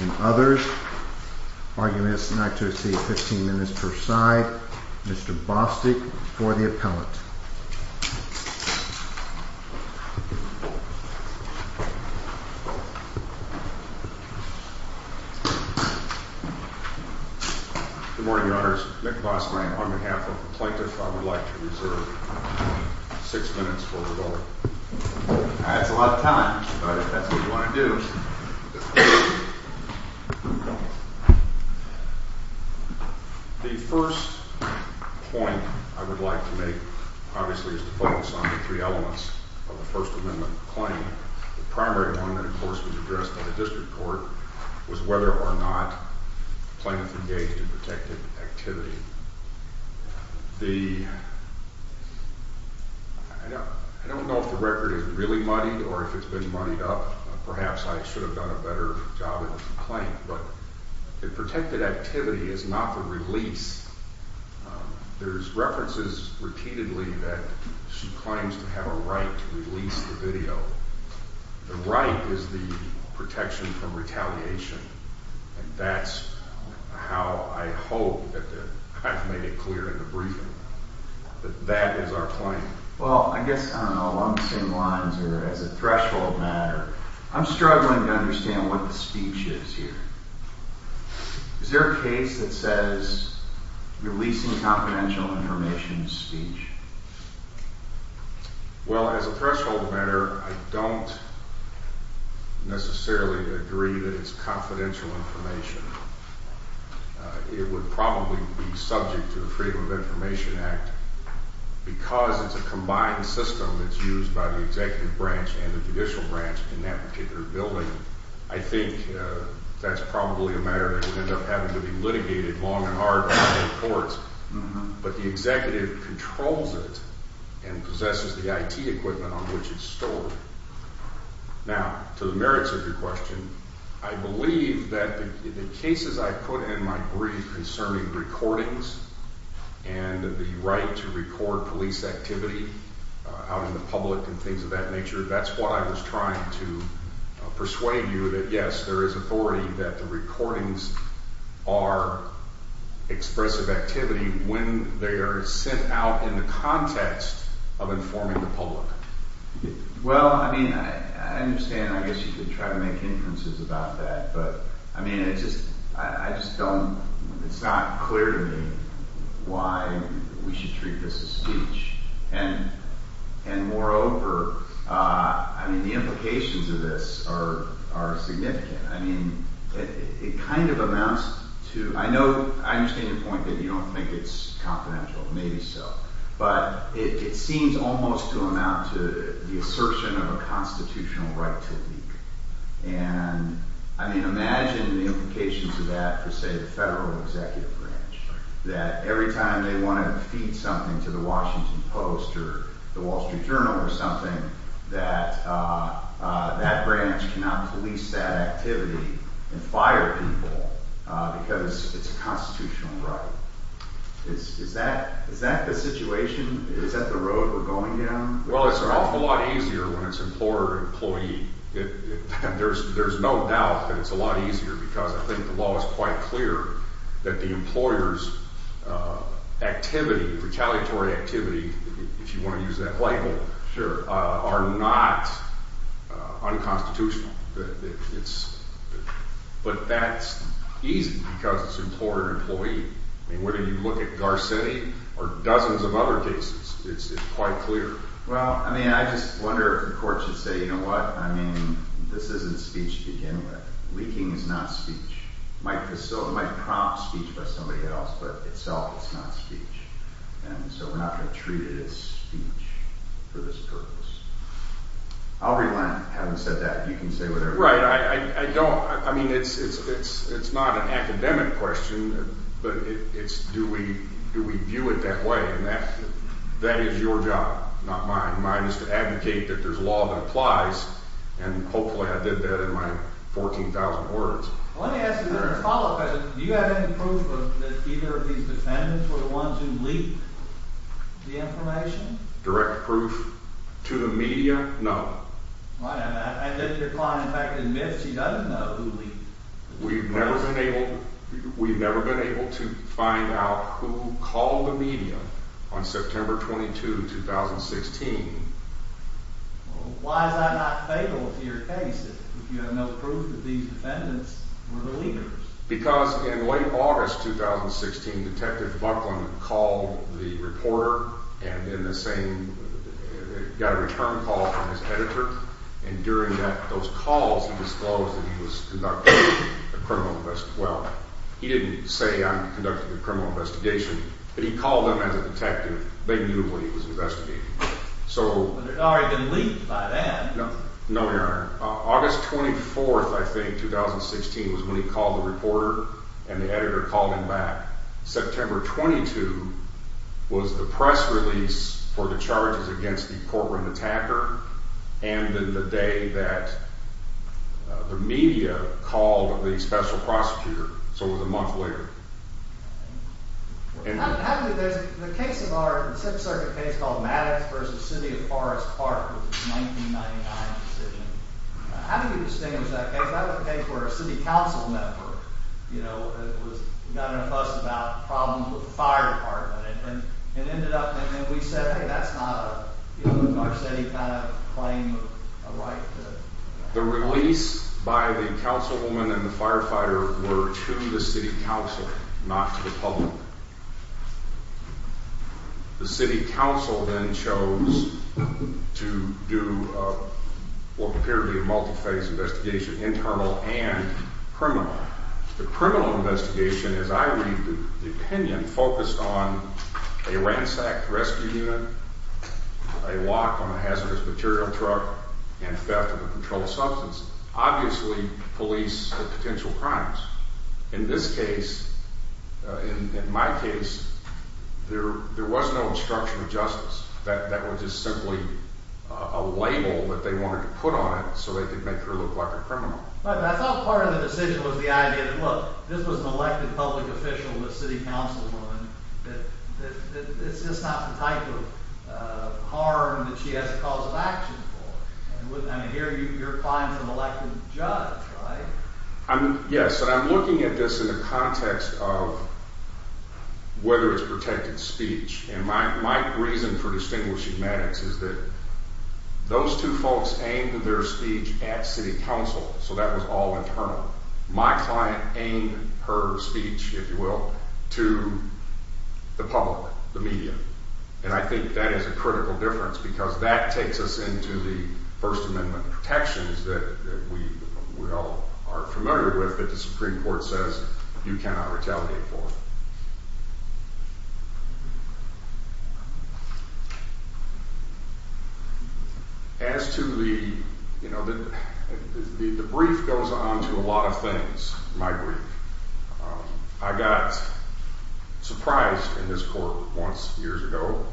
and others. Arguments not to receive 15 minutes per side. Mr Bostic for the appellant. Thank you. Thank you. Good morning, Your Honors. Nick Bostic on behalf of the plaintiff. I would like to reserve six minutes for rebuttal. That's a lot of time. But if that's what you want to do. The first point I would like to make, obviously, is to focus on the three elements of the First Amendment claim. The primary one that, of course, was addressed by the district court was whether or not the plaintiff engaged in protected activity. I don't know if the record is really muddied or if it's been muddied up. Perhaps I should have done a better job in the complaint. But the protected activity is not the release. There's references repeatedly that she claims to have a right to release the video. The right is the protection from retaliation. And that's how I hope that I've made it clear in the briefing that that is our claim. Well, I guess along the same lines or as a threshold matter, I'm struggling to understand what the speech is here. Is there a case that says releasing confidential information speech? Well, as a threshold matter, I don't necessarily agree that it's confidential information. It would probably be subject to the Freedom of Information Act. Because it's a combined system that's used by the executive branch and the judicial branch in that particular building, I think that's probably a matter that would end up having to be litigated long and hard by the courts. But the executive controls it and possesses the IT equipment on which it's stored. Now, to the merits of your question, I believe that the cases I put in my brief concerning recordings and the right to record police activity out in the public and things of that nature, that's what I was trying to persuade you that, yes, there is authority that the recordings are expressive activity when they are sent out in the context of informing the public. Well, I mean, I understand. I guess you could try to make inferences about that. But, I mean, I just don't – it's not clear to me why we should treat this as speech. And moreover, I mean, the implications of this are significant. I mean, it kind of amounts to – I know – I understand your point that you don't think it's confidential. Maybe so. But it seems almost to amount to the assertion of a constitutional right to leak. And, I mean, imagine the implications of that for, say, the federal executive branch. That every time they want to feed something to the Washington Post or the Wall Street Journal or something, that that branch cannot police that activity and fire people because it's a constitutional right. Is that the situation? Is that the road we're going down? Well, it's an awful lot easier when it's employer-employee. There's no doubt that it's a lot easier because I think the law is quite clear that the employer's activity, retaliatory activity, if you want to use that label, are not unconstitutional. But that's easy because it's employer-employee. I mean, whether you look at Garcetti or dozens of other cases, it's quite clear. Well, I mean, I just wonder if the court should say, you know what, I mean, this isn't speech to begin with. Leaking is not speech. It might prompt speech by somebody else, but itself it's not speech. And so we're not going to treat it as speech for this purpose. I'll relent having said that. You can say whatever you want. Right. I don't – I mean, it's not an academic question, but it's do we view it that way. And that is your job, not mine. Mine is to advocate that there's law that applies, and hopefully I did that in my 14,000 words. Well, let me ask you a follow-up question. Do you have any proof that either of these defendants were the ones who leaked the information? Direct proof to the media? No. Why not? And then your client in fact admits he doesn't know who leaked. We've never been able to find out who called the media on September 22, 2016. Well, why is that not fatal to your case if you have no proof that these defendants were the leakers? Because in late August 2016, Detective Buckland called the reporter and then the same – got a return call from his editor. And during that – those calls, he disclosed that he was conducting a criminal – well, he didn't say on conducting a criminal investigation, but he called them as a detective. They knew what he was investigating. So – But it had already been leaked by then. No, Your Honor. August 24th, I think, 2016, was when he called the reporter and the editor called him back. September 22 was the press release for the charges against the courtroom attacker and then the day that the media called the special prosecutor. So it was a month later. How do you – the case of our – the Sixth Circuit case called Maddox v. City of Forest Park was a 1999 decision. How do you distinguish that case? I think that was a case where a city council member, you know, was – got in a fuss about problems with the fire department and ended up – and then we said, hey, that's not a, you know, in our city kind of claim of a right to – The release by the councilwoman and the firefighter were to the city council, not to the public. The city council then chose to do what appeared to be a multi-phase investigation, internal and criminal. The criminal investigation, as I read the opinion, focused on a ransacked rescue unit, a lock on a hazardous material truck, and theft of a controlled substance. Obviously, police had potential crimes. In this case, in my case, there was no instruction of justice. That was just simply a label that they wanted to put on it so they could make her look like a criminal. But I thought part of the decision was the idea that, look, this was an elected public official, this city councilwoman, that it's just not the type of harm that she has a cause of action for. I mean, here you're applying for an elected judge, right? Yes, and I'm looking at this in the context of whether it's protected speech. And my reason for distinguishing Maddox is that those two folks aimed their speech at city council, so that was all internal. My client aimed her speech, if you will, to the public, the media. And I think that is a critical difference because that takes us into the First Amendment protections that we all are familiar with that the Supreme Court says you cannot retaliate for. As to the, you know, the brief goes on to a lot of things, my brief. I got surprised in this court once, years ago,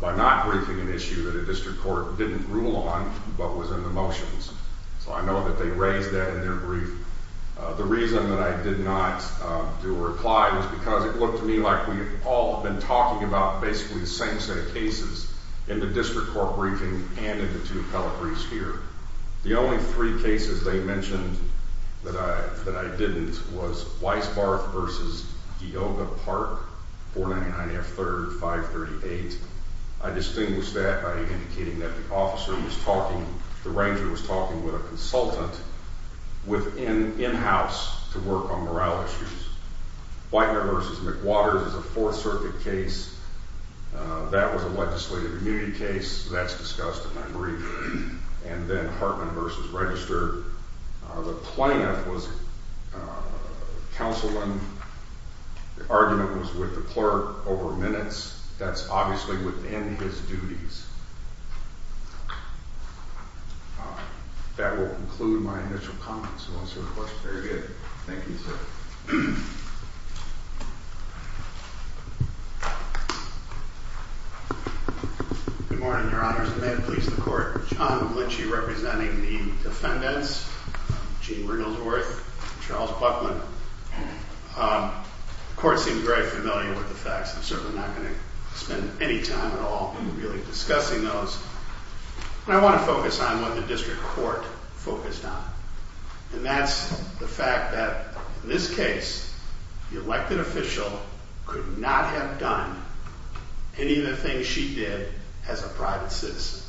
by not briefing an issue that a district court didn't rule on but was in the motions. So I know that they raised that in their brief. The reason that I did not do a reply was because it looked to me like we had all been talking about basically the same set of cases in the district court briefing and in the two appellate briefs here. The only three cases they mentioned that I didn't was Weisbarth v. Geoga Park, 499 F. 3rd, 538. I distinguished that by indicating that the officer was talking, the ranger was talking with a consultant in-house to work on morale issues. Whitener v. McWaters is a Fourth Circuit case. That was a legislative immunity case. That's discussed in my brief. And then Hartman v. Register. The plaintiff was counseling. The argument was with the clerk over minutes. That's obviously within his duties. That will conclude my initial comments. Very good. Thank you, sir. Good morning, Your Honors. May it please the Court. John Glitchy representing the defendants, Gene Brindlesworth, Charles Buckman. The Court seemed very familiar with the facts. I'm certainly not going to spend any time at all really discussing those. I want to focus on what the district court focused on. And that's the fact that in this case, the elected official could not have done any of the things she did as a private citizen.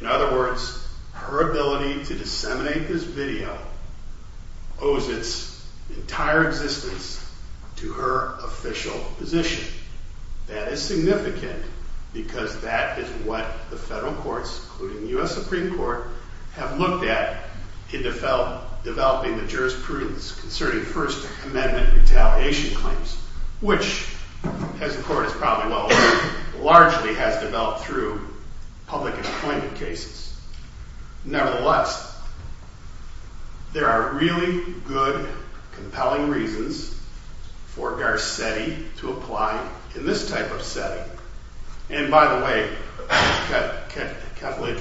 In other words, her ability to disseminate this video owes its entire existence to her official position. That is significant because that is what the federal courts, including the U.S. Supreme Court, have looked at in developing the jurisprudence concerning First Amendment retaliation claims. Which, as the Court is probably well aware, largely has developed through public employment cases. Nevertheless, there are really good, compelling reasons for Garcetti to apply in this type of setting. And by the way,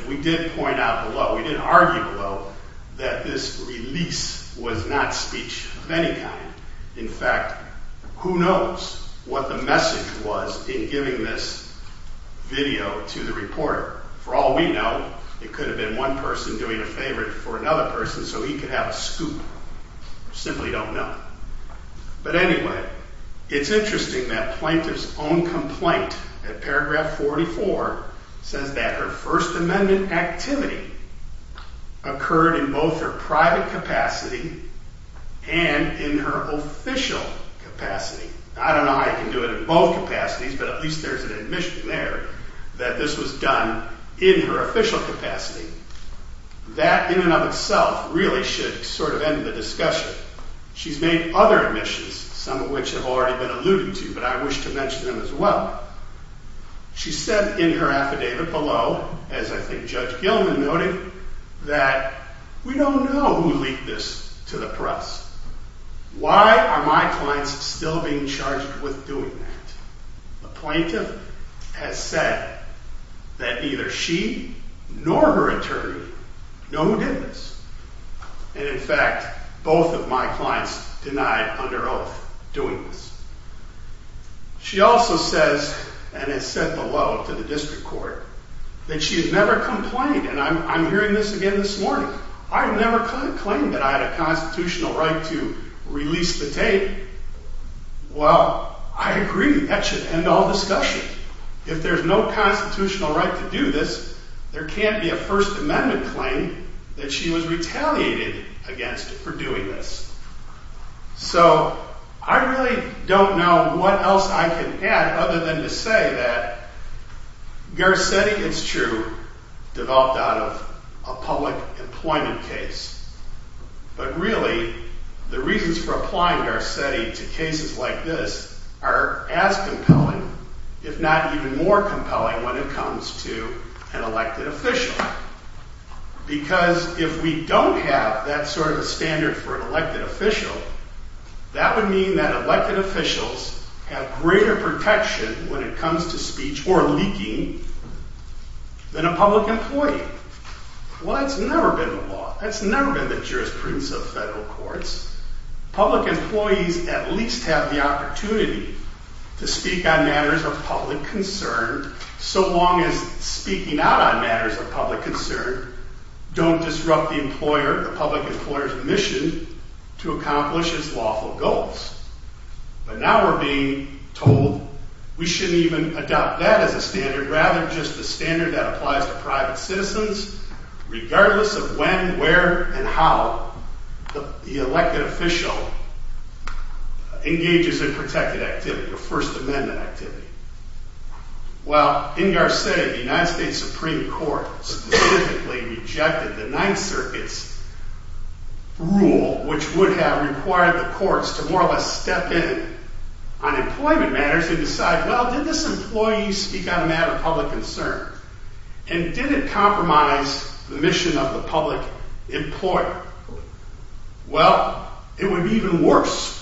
we did point out below, we did argue below, that this release was not speech of any kind. In fact, who knows what the message was in giving this video to the reporter. For all we know, it could have been one person doing a favor for another person so he could have a scoop. We simply don't know. But anyway, it's interesting that Plaintiff's own complaint at paragraph 44 says that her First Amendment activity occurred in both her private capacity and in her official capacity. I don't know how you can do it in both capacities, but at least there's an admission there that this was done in her official capacity. That in and of itself really should sort of end the discussion. She's made other admissions, some of which have already been alluded to, but I wish to mention them as well. She said in her affidavit below, as I think Judge Gilman noted, that we don't know who leaked this to the press. Why are my clients still being charged with doing that? The Plaintiff has said that neither she nor her attorney know who did this. And in fact, both of my clients denied under oath doing this. She also says, and has said below to the District Court, that she has never complained. And I'm hearing this again this morning. I've never claimed that I had a constitutional right to release the tape. Well, I agree that should end all discussion. If there's no constitutional right to do this, there can't be a First Amendment claim that she was retaliated against for doing this. So I really don't know what else I can add other than to say that Garcetti, it's true, developed out of a public employment case. But really, the reasons for applying Garcetti to cases like this are as compelling, if not even more compelling, when it comes to an elected official. Because if we don't have that sort of a standard for an elected official, that would mean that elected officials have greater protection when it comes to speech or leaking than a public employee. Well, that's never been the law. That's never been the jurisprudence of federal courts. Public employees at least have the opportunity to speak on matters of public concern, so long as speaking out on matters of public concern don't disrupt the employer, the public employer's mission to accomplish its lawful goals. But now we're being told we shouldn't even adopt that as a standard, rather just a standard that applies to private citizens, regardless of when, where, and how the elected official engages in protected activity or First Amendment activity. Well, in Garcetti, the United States Supreme Court specifically rejected the Ninth Circuit's rule, which would have required the courts to more or less step in on employment matters and decide, well, did this employee speak on a matter of public concern? And did it compromise the mission of the public employer? Well, it would be even worse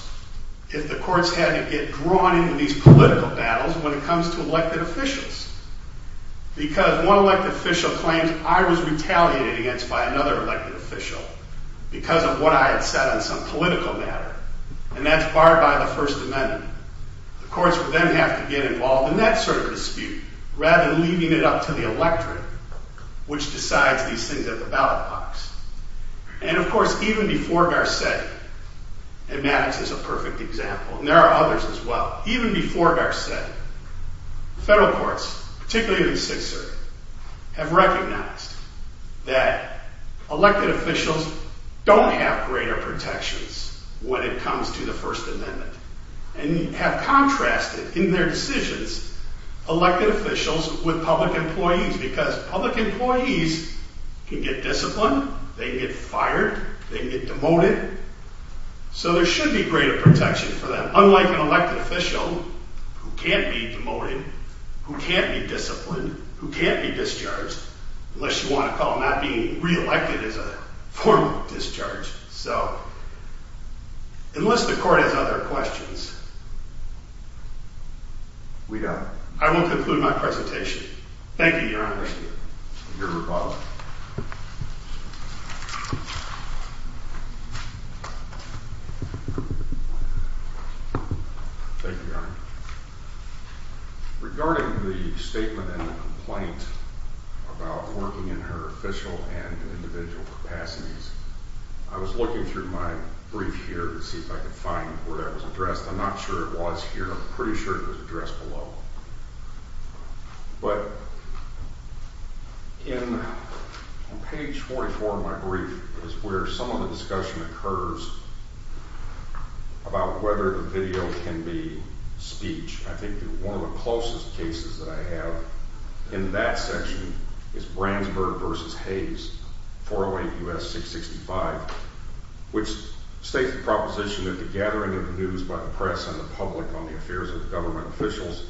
if the courts had to get drawn into these political battles when it comes to elected officials, because one elected official claims I was retaliated against by another elected official because of what I had said on some political matter, and that's barred by the First Amendment. The courts would then have to get involved in that sort of dispute, rather than leaving it up to the electorate, which decides these things at the ballot box. And of course, even before Garcetti, and Maddox is a perfect example, and there are others as well, even before Garcetti, federal courts, particularly in the Sixth Circuit, have recognized that elected officials don't have greater protections when it comes to the First Amendment. And have contrasted in their decisions elected officials with public employees, because public employees can get disciplined, they can get fired, they can get demoted, so there should be greater protection for them, unlike an elected official who can't be demoted, who can't be disciplined, who can't be discharged, unless you want to call not being reelected as a formal discharge. So, unless the court has other questions, I will conclude my presentation. Thank you, Your Honor. Your rebuttal. Thank you, Your Honor. In page 44 of my brief is where some of the discussion occurs about whether the video can be speech. I think one of the closest cases that I have in that section is Brandsburg v. Hayes, 408 U.S. 665, which states the proposition that the gathering of news by the press and the public on the affairs of government officials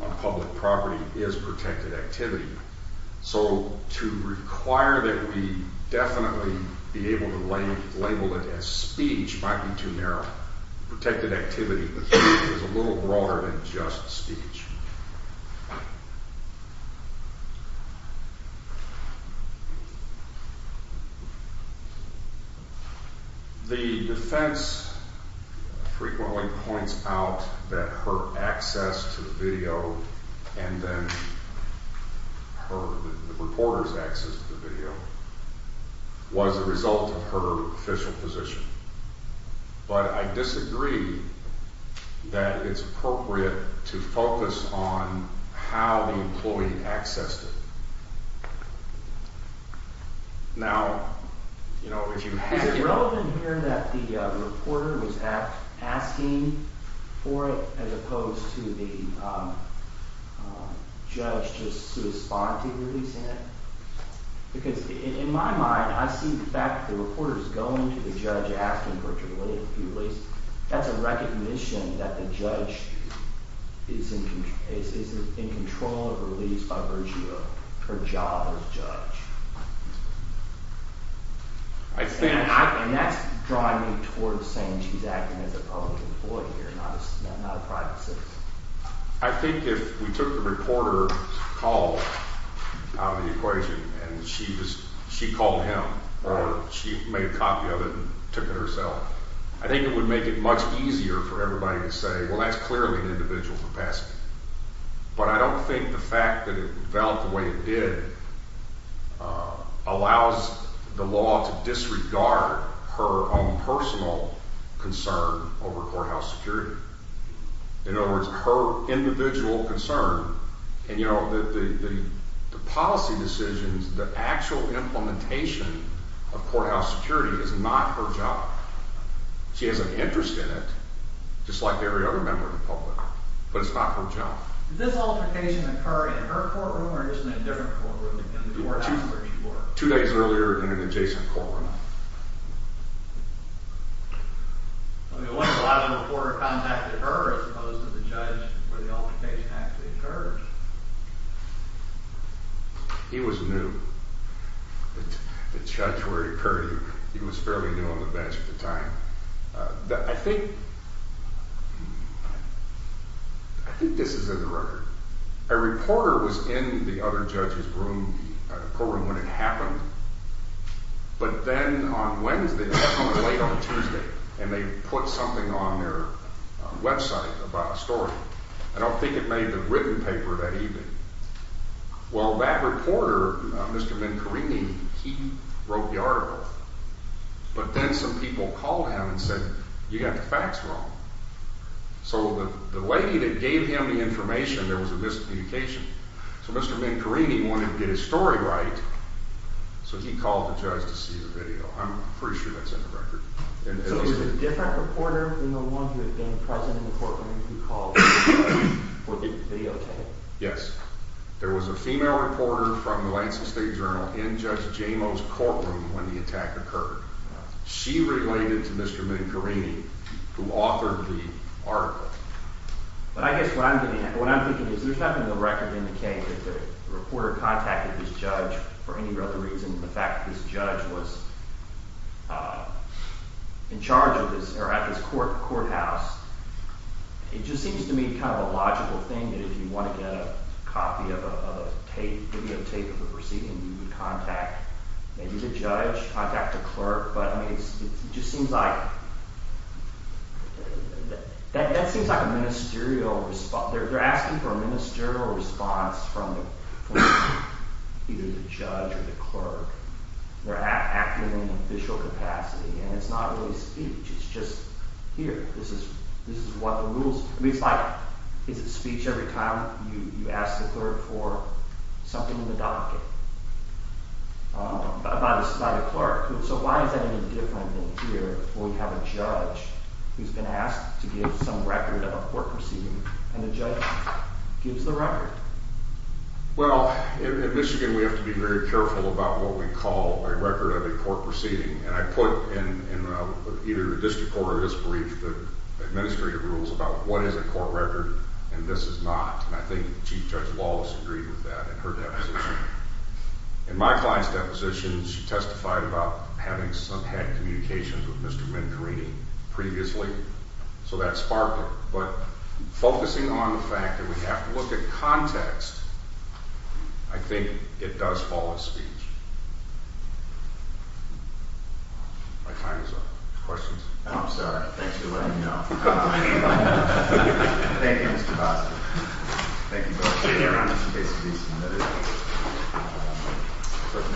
on public property is protected activity. So, to require that we definitely be able to label it as speech might be too narrow. Protected activity is a little broader than just speech. The defense frequently points out that her access to the video and then her, the reporter's access to the video, was a result of her official position. But I disagree that it's appropriate to focus on how the employee accessed it. Is it relevant here that the reporter was asking for it as opposed to the judge just responding to releasing it? Because in my mind, I see the fact that the reporter is going to the judge asking for it to be released. That's a recognition that the judge is in control of a release by Virginia, her job as judge. And that's drawing me towards saying she's acting as a public employee here, not a private citizen. I think if we took the reporter's call out of the equation and she called him or she made a copy of it and took it herself, I think it would make it much easier for everybody to say, well, that's clearly an individual capacity. But I don't think the fact that it developed the way it did allows the law to disregard her own personal concern over courthouse security. In other words, her individual concern and the policy decisions, the actual implementation of courthouse security is not her job. She has an interest in it, just like every other member of the public, but it's not her job. Did this altercation occur in her courtroom or just in a different courtroom in the courthouse where she worked? Two days earlier in an adjacent courtroom. I mean, what if the reporter contacted her as opposed to the judge where the altercation actually occurred? He was new. The judge where he occurred, he was fairly new on the bench at the time. I think this is in the record. A reporter was in the other judge's courtroom when it happened, but then on Wednesday, definitely late on Tuesday, and they put something on their website about a story. I don't think it made the written paper that evening. Well, that reporter, Mr. Mancorini, he wrote the article, but then some people called him and said, you got the facts wrong. So the lady that gave him the information, there was a miscommunication. So Mr. Mancorini wanted to get his story right, so he called the judge to see the video. I'm pretty sure that's in the record. So it was a different reporter than the one who had been present in the courtroom who called for the video tape? Yes. There was a female reporter from the Lancet State Journal in Judge Jameau's courtroom when the attack occurred. She related to Mr. Mancorini, who authored the article. But I guess what I'm thinking is there's nothing in the record indicating that the reporter contacted this judge for any other reason than the fact that this judge was in charge of this or at this courthouse. It just seems to me kind of a logical thing that if you want to get a copy of a tape, video tape of the proceeding, you would contact maybe the judge, contact the clerk. But it just seems like – that seems like a ministerial – they're asking for a ministerial response from either the judge or the clerk. They're acting in an official capacity, and it's not really speech. It's just, here, this is what the rules – I mean, it's like, is it speech every time you ask the clerk for something in the docket by the clerk? So why is that any different than here, where we have a judge who's been asked to give some record of a court proceeding, and the judge gives the record? Well, in Michigan, we have to be very careful about what we call a record of a court proceeding. And I put in either the district court or this brief the administrative rules about what is a court record, and this is not. And I think Chief Judge Lawless agreed with that in her deposition. In my client's deposition, she testified about having some – had communications with Mr. Mincarini previously, so that sparked it. But focusing on the fact that we have to look at context, I think it does fall in speech. My time is up. Questions? Oh, I'm sorry. Thanks for letting me know. Thank you, Mr. Bosco. Thank you very much.